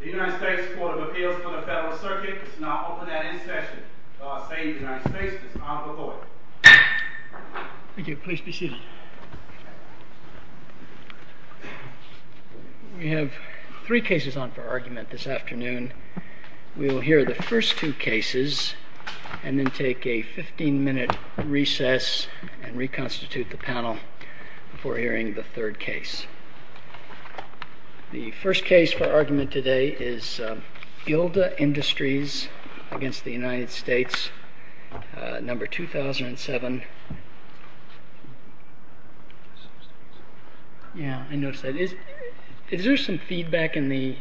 The United States Court of Appeals for the Federal Circuit is now open at any session. I say to the United States, Mr. Honorable Lloyd. Thank you. Please be seated. We have three cases on for argument this afternoon. We will hear the first two cases and then take a 15-minute recess and reconstitute the panel before hearing the third case. The first case for argument today is Gilda Industries v. United States, number 2007. 2007-11-72.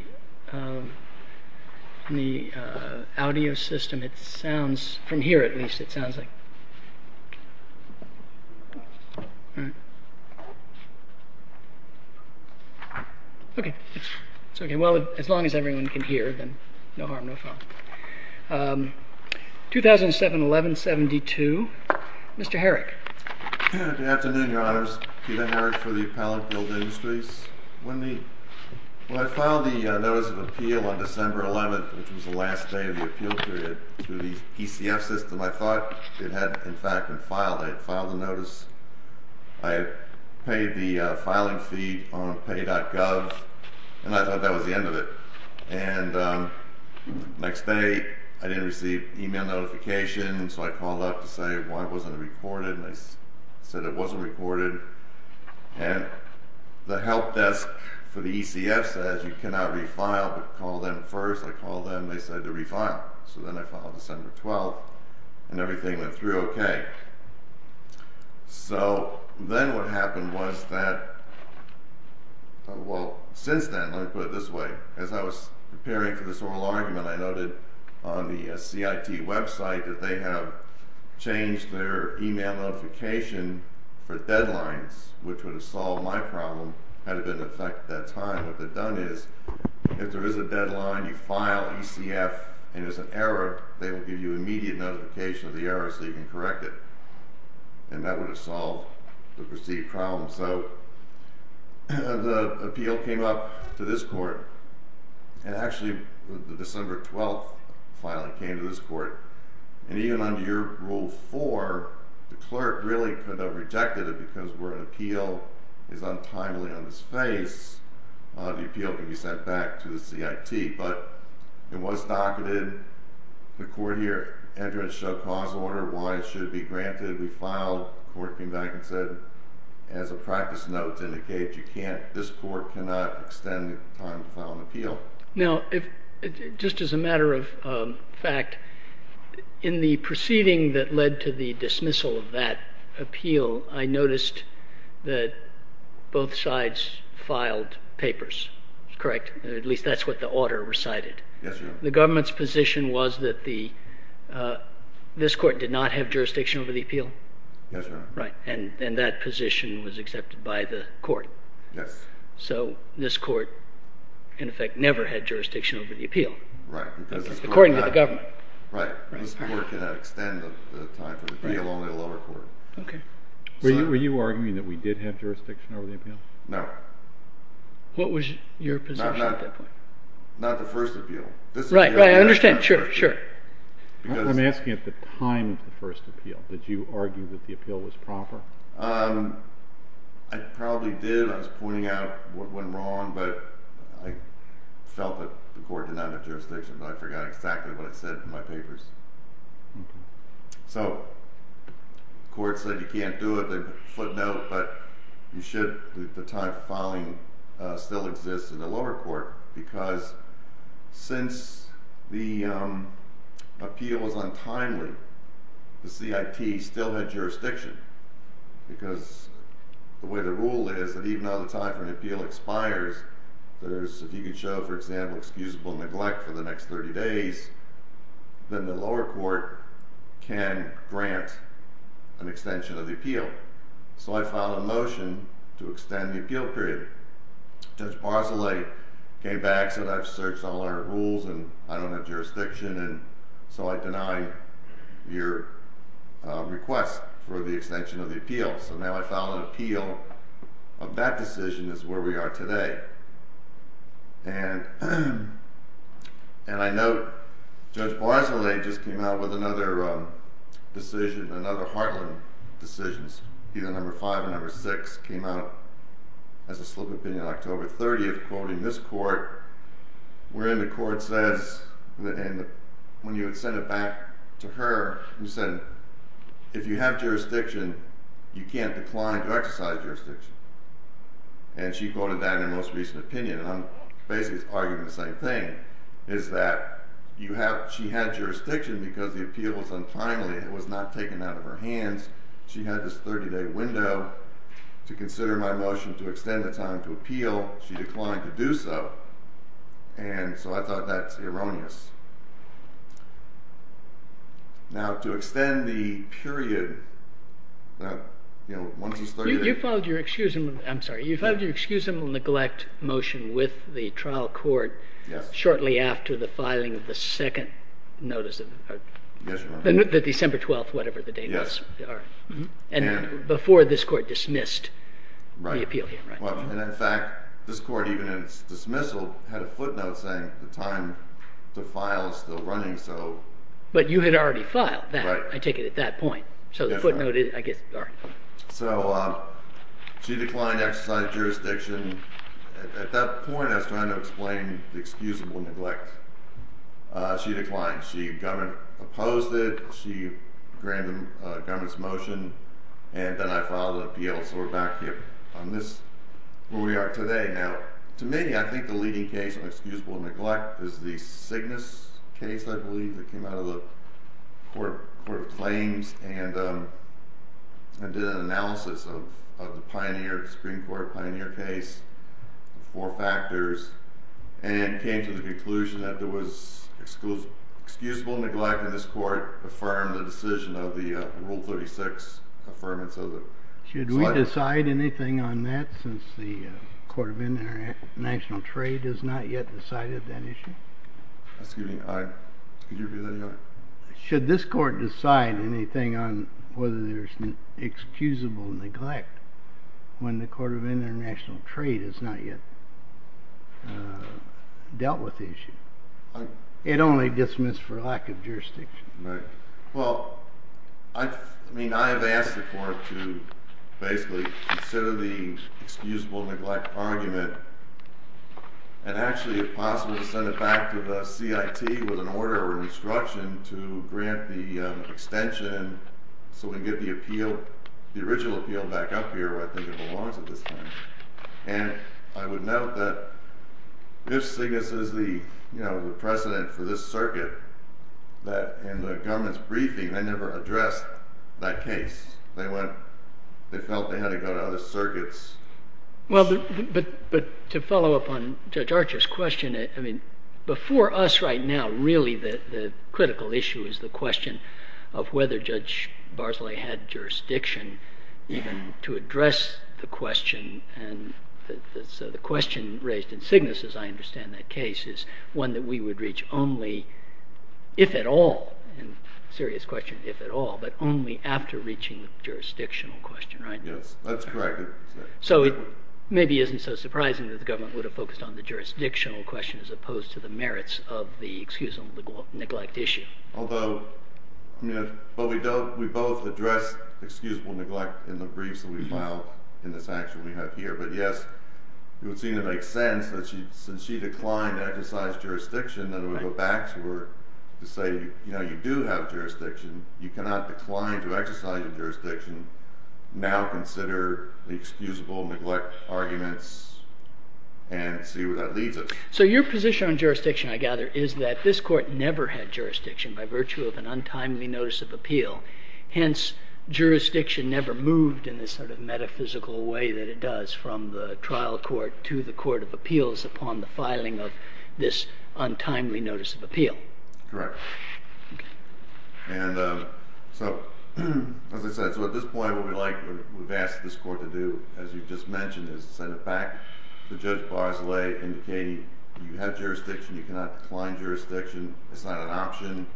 OK. It's OK. Well, as long as everyone can hear, then no harm, no fault. 2007-11-72. Mr. Herrick. Good afternoon, Your Honors. Peter Herrick for the appellant, Gilda Industries. When I filed the Notice of Appeal on December 11, which was the last day of the appeal period, through the PCF system, I thought it had, in fact, been filed. I had filed the notice. I had paid the filing fee on pay.gov, and I thought that was the end of it. And the next day, I didn't receive email notifications, so I called up to say, well, it wasn't recorded, and they said it wasn't recorded. And the help desk for the ECF says you cannot refile, but call them first. I called them. They said to refile. So then I filed December 12, and everything went through OK. So then what happened was that, well, since then, let me put it this way. As I was preparing for this oral argument, I noted on the CIT website that they had changed their email notification for deadlines, which would have solved my problem had it been in effect at that time. What they've done is, if there is a deadline, you file ECF, and there's an error, they will give you immediate notification of the error so you can correct it. And that would have solved the perceived problem. So the appeal came up to this court. And actually, the December 12 filing came to this court. And even under your Rule 4, the clerk really could have rejected it, because where an appeal is untimely on this phase, the appeal could be sent back to the CIT. But it was docketed. The court here entered a show-cause order why it should be granted. We filed. The court came back and said, as a practice note, to indicate this court cannot extend the time to file an appeal. Now, just as a matter of fact, in the proceeding that led to the dismissal of that appeal, I noticed that both sides filed papers, correct? At least that's what the order recited. Yes, Your Honor. The government's position was that this court did not have jurisdiction over the appeal? Yes, Your Honor. Right, and that position was accepted by the court. Yes. So this court, in effect, never had jurisdiction over the appeal. Right. According to the government. Right. This court cannot extend the time for the appeal, only the lower court. Okay. Were you arguing that we did have jurisdiction over the appeal? No. What was your position at that point? Not the first appeal. Right, right, I understand. Sure, sure. I'm asking at the time of the first appeal. Did you argue that the appeal was proper? I probably did. I was pointing out what went wrong, but I felt that the court did not have jurisdiction, but I forgot exactly what it said in my papers. Okay. So the court said you can't do it. They put a footnote, but the time for filing still exists in the lower court because since the appeal was untimely, the CIT still had jurisdiction because the way the rule is that even though the time for an appeal expires, if you could show, for example, excusable neglect for the next 30 days, then the lower court can grant an extension of the appeal. So I filed a motion to extend the appeal period. Judge Barzilay came back and said, I've searched all our rules and I don't have jurisdiction, and so I deny your request for the extension of the appeal. So now I file an appeal. That decision is where we are today. And I note Judge Barzilay just came out with another decision, another heartland decision, either number five or number six, came out as a slip of the pen on October 30, quoting this court, wherein the court says, when you would send it back to her, who said, if you have jurisdiction, you can't decline to exercise jurisdiction. And she quoted that in her most recent opinion. And I'm basically arguing the same thing, is that she had jurisdiction because the appeal was untimely. It was not taken out of her hands. She had this 30-day window to consider my motion to extend the time to appeal. She declined to do so. And so I thought that's erroneous. Now, to extend the period, you know, once it's 30 days... You filed your excusable neglect motion with the trial court shortly after the filing of the second notice of... Yes, Your Honor. The December 12th, whatever the date was. Yes. And before this court dismissed the appeal hearing. And in fact, this court, even in its dismissal, had a footnote saying the time to file is still running, so... But you had already filed that, I take it, at that point. So the footnote is... So she declined to exercise jurisdiction. At that point, I was trying to explain the excusable neglect. She declined. She opposed it. She granted the government's motion. And then I filed an appeal, so we're back here. We are today. Now, to me, I think the leading case on excusable neglect is the Cygnus case, I believe, that came out of the Court of Claims and did an analysis of the Supreme Court Pioneer case, the four factors, and came to the conclusion that there was excusable neglect, and this court affirmed the decision of the Rule 36 Should we decide anything on that since the Court of International Trade has not yet decided that issue? Excuse me? Could you repeat that again? Should this court decide anything on whether there's excusable neglect when the Court of International Trade has not yet dealt with the issue? It only dismissed for lack of jurisdiction. Well, I mean, I have asked the court to basically consider the excusable neglect argument, and actually, if possible, to send it back to the CIT with an order or an instruction to grant the extension so we can get the original appeal back up here, where I think it belongs at this point. And I would note that if Cygnus is the precedent for this circuit, that in the government's briefing, they never addressed that case. They felt they had to go to other circuits. Well, but to follow up on Judge Archer's question, I mean, before us right now, really the critical issue is the question of whether Judge Barsley had jurisdiction even to address the question, and so the question raised in Cygnus, as I understand that case, is one that we would reach only if at all, and a serious question, if at all, but only after reaching the jurisdictional question, right? Yes, that's correct. So it maybe isn't so surprising that the government would have focused on the jurisdictional question as opposed to the merits of the excusable neglect issue. Although, I mean, we both addressed excusable neglect in the briefs that we filed in this action we have here, but yes, it would seem to make sense that since she declined to exercise jurisdiction, that it would go back to her to say, you know, you do have jurisdiction. You cannot decline to exercise your jurisdiction. Now consider the excusable neglect arguments and see where that leads us. So your position on jurisdiction, I gather, is that this court never had jurisdiction by virtue of an untimely notice of appeal. Hence, jurisdiction never moved in this sort of metaphysical way that it does from the trial court to the court of appeals upon the filing of this untimely notice of appeal. Correct. And so as I said, so at this point, what we've asked this court to do, as you just mentioned, is send it back to Judge Bosley indicating you have jurisdiction. You cannot decline jurisdiction. It's not an option.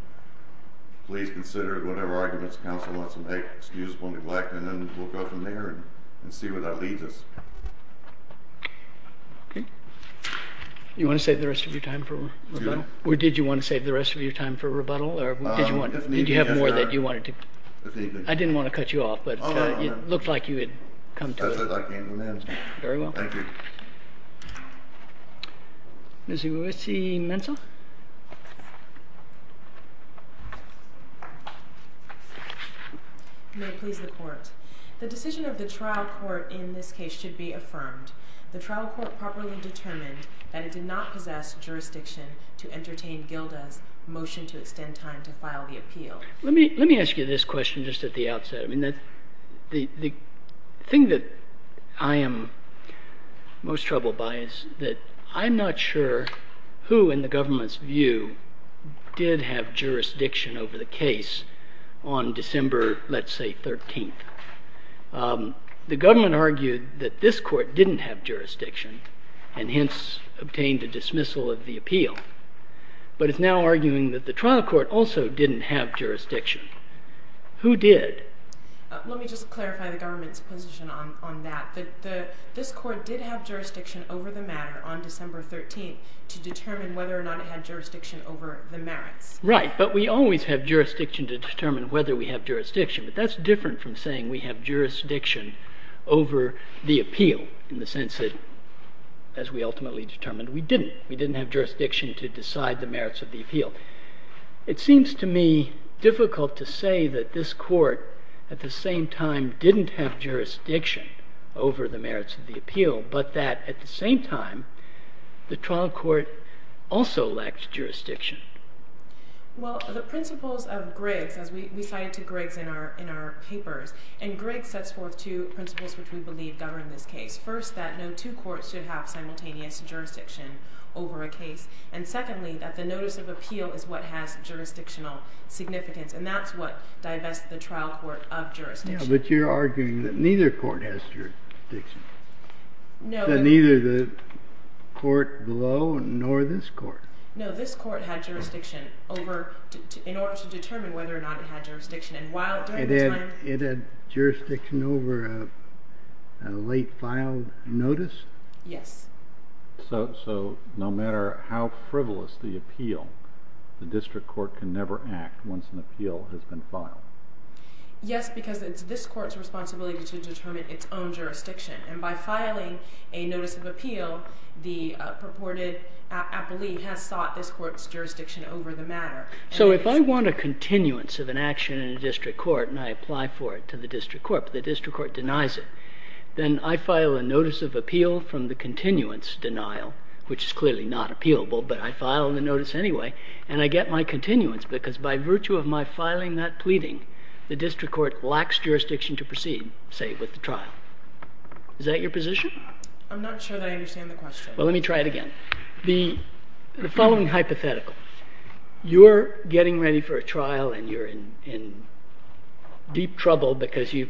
Please consider whatever arguments counsel wants to make excusable neglect, and then we'll go from there and see where that leads us. OK. You want to save the rest of your time for a rebuttal? Or did you want to save the rest of your time for a rebuttal? Or did you have more that you wanted to? I didn't want to cut you off, but it looked like you had come to it. That's what I came to. Very well. Thank you. Ms. Uwesi-Mentel? May it please the court. The decision of the trial court in this case should be affirmed. The trial court properly determined that it did not possess jurisdiction to entertain Gilda's motion to extend time to file the appeal. Let me ask you this question just at the outset. I mean, the thing that I am most troubled by is that I'm not sure who in the government view did have jurisdiction over the case on December, let's say, 13th. The government argued that this court didn't have jurisdiction and hence obtained a dismissal of the appeal. But it's now arguing that the trial court also didn't have jurisdiction. Who did? Let me just clarify the government's position on that. This court did have jurisdiction over the matter on December 13th to determine whether or not it had jurisdiction over the merits. Right, but we always have jurisdiction to determine whether we have jurisdiction. But that's different from saying we have jurisdiction over the appeal in the sense that, as we ultimately determined, we didn't. We didn't have jurisdiction to decide the merits of the appeal. It seems to me difficult to say that this court at the same time didn't have jurisdiction over the merits of the appeal, but that at the same time, the trial court also lacked jurisdiction. Well, the principles of Griggs, as we cite to Griggs in our papers, and Griggs sets forth two principles which we believe govern this case. First, that no two courts should have simultaneous jurisdiction over a case. And secondly, that the notice of appeal is what has jurisdictional significance. And that's what divests the trial court of jurisdiction. Yeah, but you're arguing that neither court has jurisdiction. No. That neither the court below nor this court. No, this court had jurisdiction in order to determine whether or not it had jurisdiction. And while during the time It had jurisdiction over a late filed notice? Yes. So no matter how frivolous the appeal, the district court can never act once an appeal has been filed. Yes, because it's this court's responsibility to determine its own jurisdiction. And by filing a notice of appeal, the purported I believe has sought this court's jurisdiction over the matter. So if I want a continuance of an action in a district court, and I apply for it to the district court, but the district court denies it, then I file a notice of appeal from the continuance denial, which is clearly not appealable, but I file the notice anyway. And I get my continuance, because by virtue of my filing that pleading, the district court lacks jurisdiction to proceed, say, with the trial. Is that your position? I'm not sure that I understand the question. Well, let me try it again. The following hypothetical. You're getting ready for a trial, and you're in deep trouble because you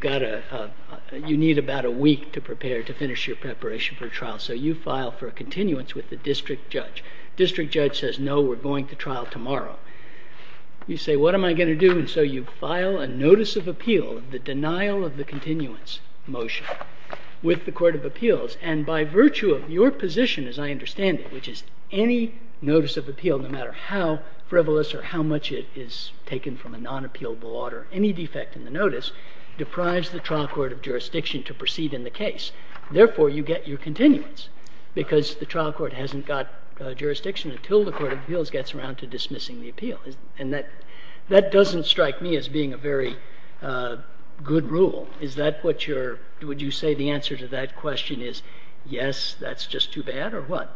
need about a week to prepare, to finish your preparation for a trial. So you file for a continuance with the district judge. District judge says, no, we're going to trial tomorrow. You say, what am I going to do? And so you file a notice of appeal, the denial of the continuance motion, with the court of appeals. And by virtue of your position, as I understand it, which is any notice of appeal, no matter how frivolous or how much it is taken from a non-appealable order, any defect in the notice deprives the trial court of jurisdiction to proceed in the case. Therefore, you get your continuance, because the trial court hasn't got jurisdiction until the court of appeals gets around to dismissing the appeal. And that doesn't strike me as being a very good rule. Would you say the answer to that question is, yes, that's just too bad, or what?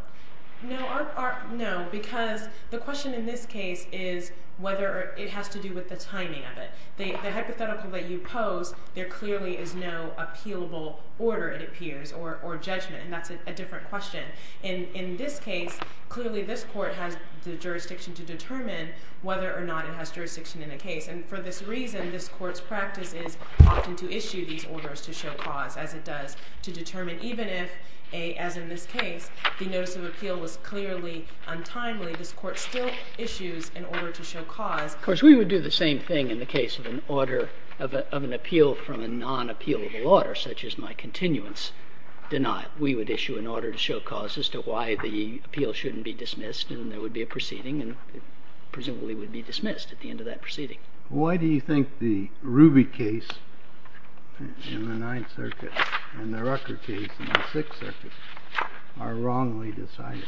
No, because the question in this case is whether it has to do with the timing of it. The hypothetical that you pose, there clearly is no appealable order, it appears, or judgment. And that's a different question. In this case, clearly this court has the jurisdiction to determine whether or not it has jurisdiction in a case. And for this reason, this court's practice is often to issue these orders to show cause, as it does to determine even if, as in this case, the notice of appeal was clearly untimely, this court still issues an order to show cause. Of course, we would do the same thing in the case of an appeal from a non-appealable order, such as my continuance denial. We would issue an order to show cause as to why the appeal shouldn't be dismissed, and there would be a proceeding, and it presumably would be dismissed at the end of that proceeding. Why do you think the Ruby case in the Ninth Circuit and the Rucker case in the Sixth Circuit are wrongly decided?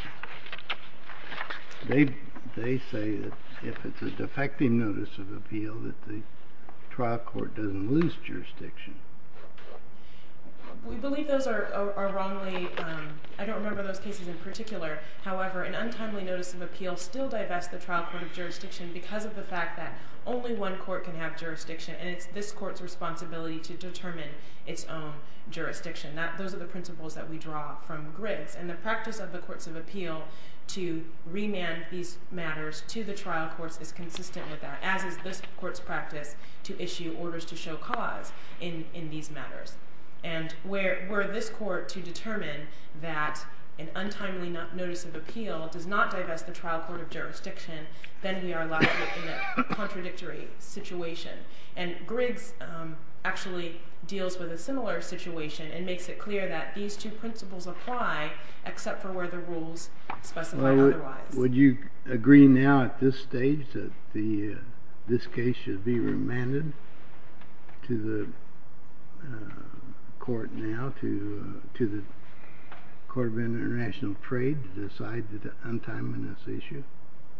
They say that if it's a defecting notice of appeal, that the trial court doesn't lose jurisdiction. We believe those are wrongly... I don't remember those cases in particular. However, an untimely notice of appeal still divests the trial court of jurisdiction because of the fact that only one court can have jurisdiction, and it's this court's responsibility to determine its own jurisdiction. Those are the principles that we draw from Griggs. And the practice of the courts of appeal to remand these matters to the trial courts is consistent with that, as is this court's practice to issue orders to show cause in these matters. And were this court to determine that an untimely notice of appeal does not divest the trial court of jurisdiction, then we are left in a contradictory situation. And Griggs actually deals with a similar situation and makes it clear that these two principles apply, except for where the rules specify otherwise. Would you agree now at this stage that this case should be remanded to the court now, to the Court of International Trade, to decide the untimely notice issue?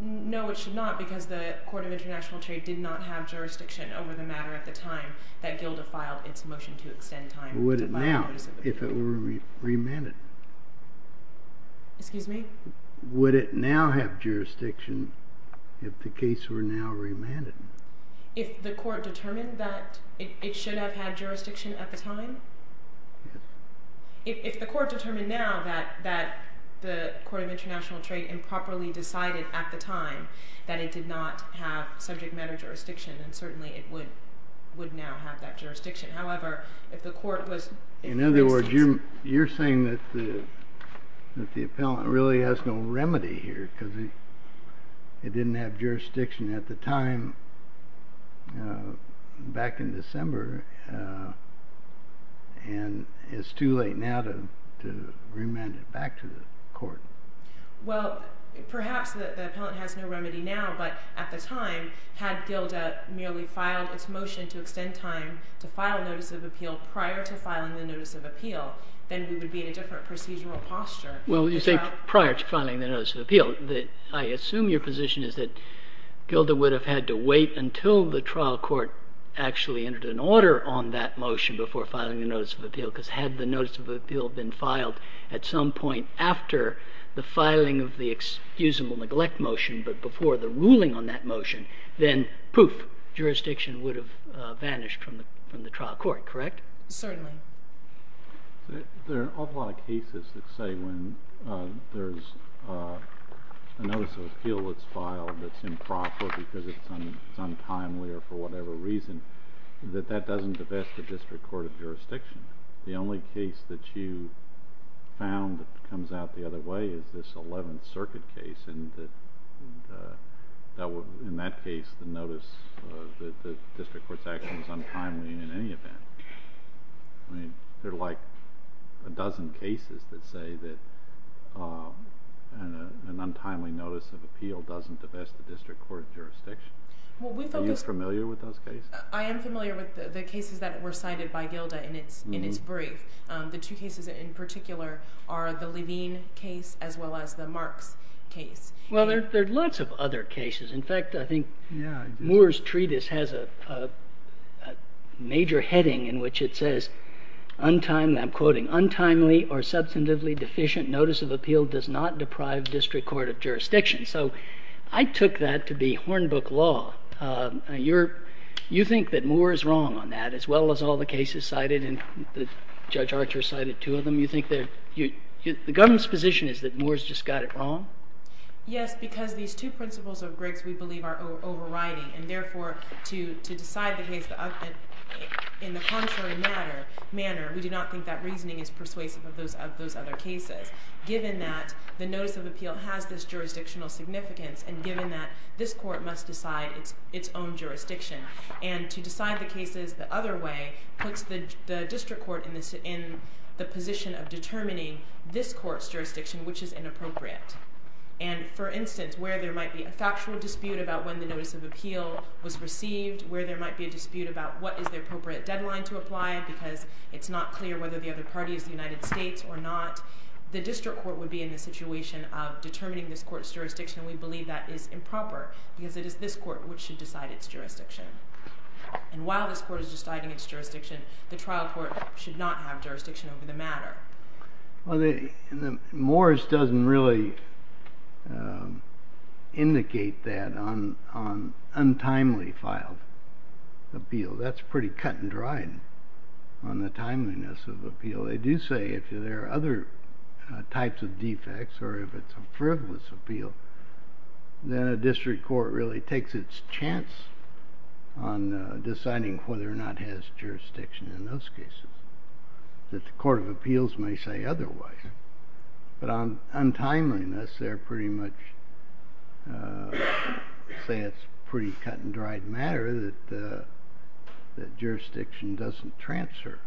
No, it should not, because the Court of International Trade did not have jurisdiction over the matter at the time that GILDA filed its motion to extend time to buy a notice of appeal. Would it now, if it were remanded? Excuse me? Would it now have jurisdiction if the case were now remanded? If the court determined that it should have had jurisdiction at the time? Yes. If the court determined now that the Court of International Trade improperly decided at the time that it did not have subject matter jurisdiction, then certainly it would now have that jurisdiction. However, if the court was... In other words, you're saying that the appellant really has no remedy here, because it didn't have jurisdiction at the time back in December, and it's too late now to remand it back to the court. Well, perhaps the appellant has no remedy now, but at the time, had GILDA merely filed its motion to extend time to file a notice of appeal prior to filing the notice of appeal, then we would be in a different procedural posture. Well, you say prior to filing the notice of appeal. I assume your position is that GILDA would have had to wait until the trial court actually entered an order on that motion before filing a notice of appeal, because had the notice of appeal been filed at some point after the filing of the excusable neglect motion, but before the ruling on that motion, then, poof, jurisdiction would have vanished from the trial court, correct? Certainly. There are an awful lot of cases that say when there's a notice of appeal that's filed that's improper because it's untimely or for whatever reason, that that doesn't affect the district court of jurisdiction. The only case that you found that comes out the other way is this Eleventh Circuit case, and in that case, the notice of the district court's action was untimely in any event. I mean, there are like a dozen cases that say that an untimely notice of appeal doesn't affect the district court of jurisdiction. Are you familiar with those cases? I am familiar with the cases that were cited by GILDA in its brief. The two cases in particular are the Levine case as well as the Marks case. Well, there are lots of other cases. In fact, I think Moore's treatise has a major heading in which it says, I'm quoting, untimely or substantively deficient notice of appeal does not deprive district court of jurisdiction. So I took that to be hornbook law. You think that Moore is wrong on that as well as all the cases cited, and Judge Archer cited two of them. You think that the government's position is that Moore's just got it wrong? Yes, because these two principles of Griggs, we believe, are overriding, and therefore, to decide the case in the contrary manner, we do not think that reasoning is persuasive of those other cases, given that the notice of appeal has this jurisdictional significance, and given that this court must decide its own jurisdiction. And to decide the cases the other way puts the district court in the position of determining this court's jurisdiction, which is inappropriate. And, for instance, where there might be a factual dispute about when the notice of appeal was received, where there might be a dispute about what is the appropriate deadline to apply, because it's not clear whether the other party is the United States or not, the district court would be in the situation of determining this court's jurisdiction, and we believe that is improper, because it is this court which should decide its jurisdiction. And while this court is deciding its jurisdiction, the trial court should not have jurisdiction over the matter. Well, Morris doesn't really indicate that on untimely filed appeal. That's pretty cut and dried on the timeliness of appeal. They do say if there are other types of defects, or if it's a frivolous appeal, then a district court really takes its chance on deciding whether or not it has jurisdiction in those cases. That the court of appeals may say otherwise. But on timeliness, they pretty much say it's pretty cut and dried matter that jurisdiction doesn't transfer.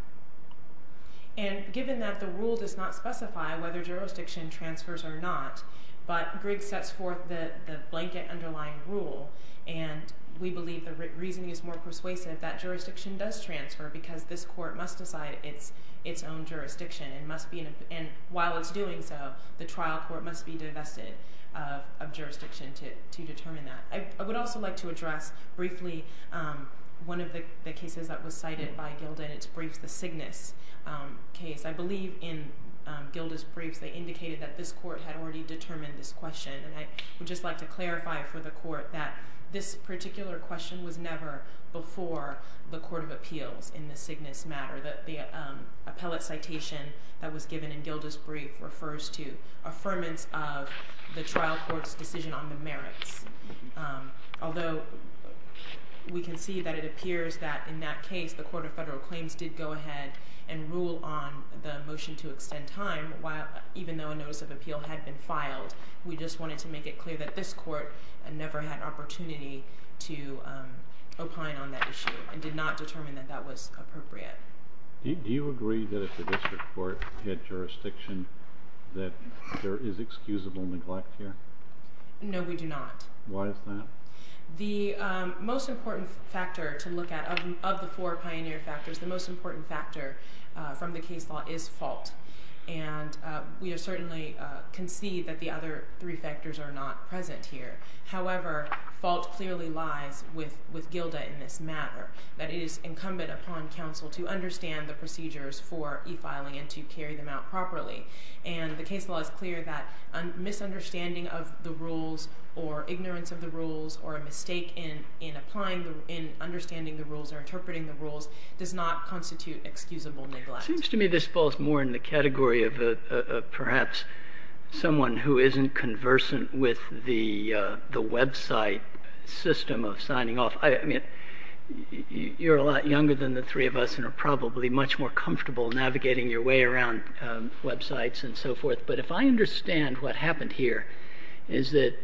And given that the rule does not specify whether jurisdiction transfers or not, but Griggs sets forth the blanket underlying rule, and we believe the reasoning is more persuasive that jurisdiction does transfer, because this court must decide its own jurisdiction. And while it's doing so, the trial court must be divested of jurisdiction to determine that. I would also like to address briefly one of the cases that was cited by Gilda in its briefs, the Cygnus case. I believe in Gilda's briefs, they indicated that this court had already determined this question. And I would just like to clarify for the court that this particular question was never before the court of appeals in the Cygnus matter. The appellate citation that was given in Gilda's brief refers to affirmance of the trial court's decision on the merits. Although we can see that it appears that in that case, the court of federal claims did go ahead and rule on the motion to extend time, even though a notice of appeal had been filed. We just wanted to make it clear that this court never had an opportunity to opine on that issue and did not determine that that was appropriate. Do you agree that if the district court had jurisdiction, that there is excusable neglect here? No, we do not. Why is that? The most important factor to look at, of the four pioneer factors, the most important factor from the case law is fault. And we certainly concede that the other three factors are not present here. However, fault clearly lies with Gilda in this matter, that it is incumbent upon counsel to understand the procedures for e-filing and to carry them out properly. And the case law is clear that misunderstanding of the rules or ignorance of the rules or a mistake in understanding the rules or interpreting the rules does not constitute excusable neglect. Seems to me this falls more in the category of perhaps someone who isn't conversant with the website system of signing off. I mean, you're a lot younger than the three of us and are probably much more comfortable navigating your way around websites and so forth. But if I understand what happened here is that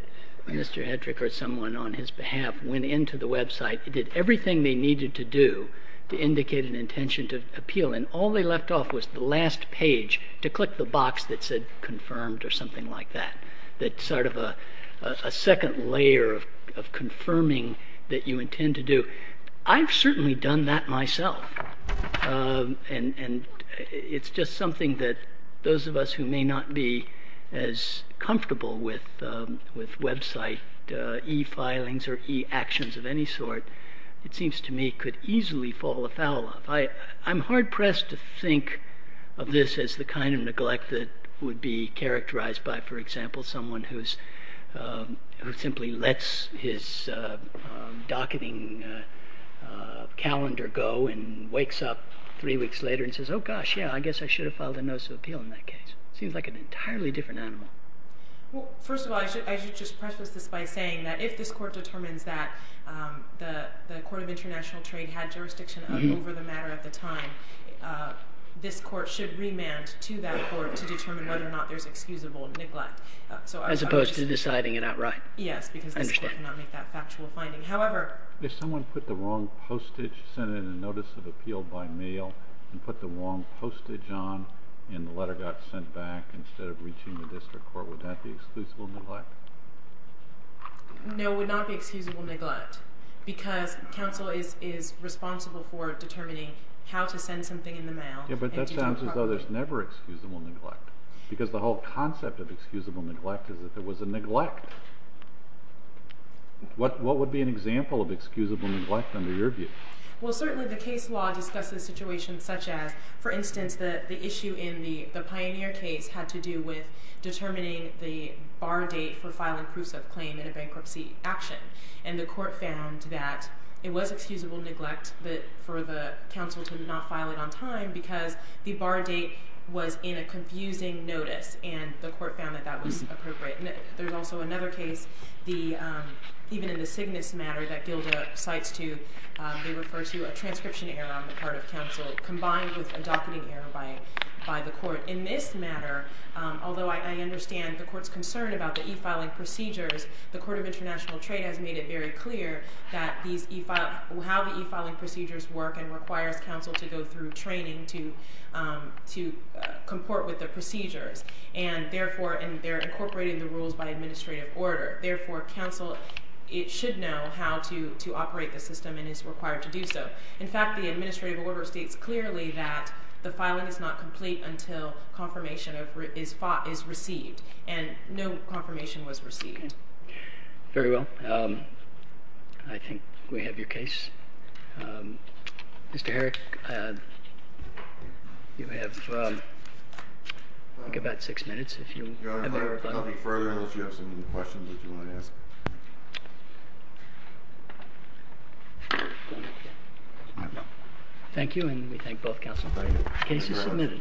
Mr. Hedrick or someone on his behalf went into the website, did everything they needed to do to indicate an intention to appeal, and all they left off was the last page to click the box that said confirmed or something like that. That's sort of a second layer of confirming that you intend to do. I've certainly done that myself. And it's just something that those of us who may not be as comfortable with website e-filings or e-actions of any sort, it seems to me could easily fall afoul of. I'm hard-pressed to think of this as the kind of neglect that would be characterized by, for example, someone who simply lets his docketing calendar go and wakes up three weeks later and says, oh gosh, yeah, I guess I should have filed a notice of appeal in that case. Seems like an entirely different animal. Well, first of all, I should just preface this by saying that if this Court determines that the Court of International Trade had jurisdiction over the matter at the time, this Court should remand to that Court to determine whether or not there's excusable neglect. As opposed to deciding it outright. Yes, because this Court cannot make that factual finding. However... If someone put the wrong postage, sent in a notice of appeal by mail and put the wrong postage on and the letter got sent back instead of reaching the district court, would that be excusable neglect? No, it would not be excusable neglect because counsel is responsible for determining how to send something in the mail... Yeah, but that sounds as though there's never excusable neglect. Because the whole concept of excusable neglect is that there was a neglect. What would be an example of excusable neglect under your view? Well, certainly the case law discusses situations such as, for instance, the issue in the Pioneer case had to do with determining the bar date for filing proofs of claim in a bankruptcy action. And the Court found that it was excusable neglect for the counsel to not file it on time because the bar date was in a confusing notice. And the Court found that that was appropriate. There's also another case, even in the Cygnus matter that Gilda cites too, they refer to a transcription error on the part of counsel combined with a docketing error by the Court. In this matter, although I understand the Court's concern about the e-filing procedures, the Court of International Trade has made it very clear that how the e-filing procedures work and requires counsel to go through training to comport with the procedures. And therefore, they're incorporating the rules by administrative order. Therefore, counsel should know how to operate the system and is required to do so. In fact, the administrative order states clearly that the filing is not complete until confirmation is received. And no confirmation was received. Okay. Very well. I think we have your case. Mr. Herrick, you have about six minutes. Your Honor, I'll be further unless you have some questions that you want to ask. Thank you, and we thank both counsels. The case is submitted. Thank you.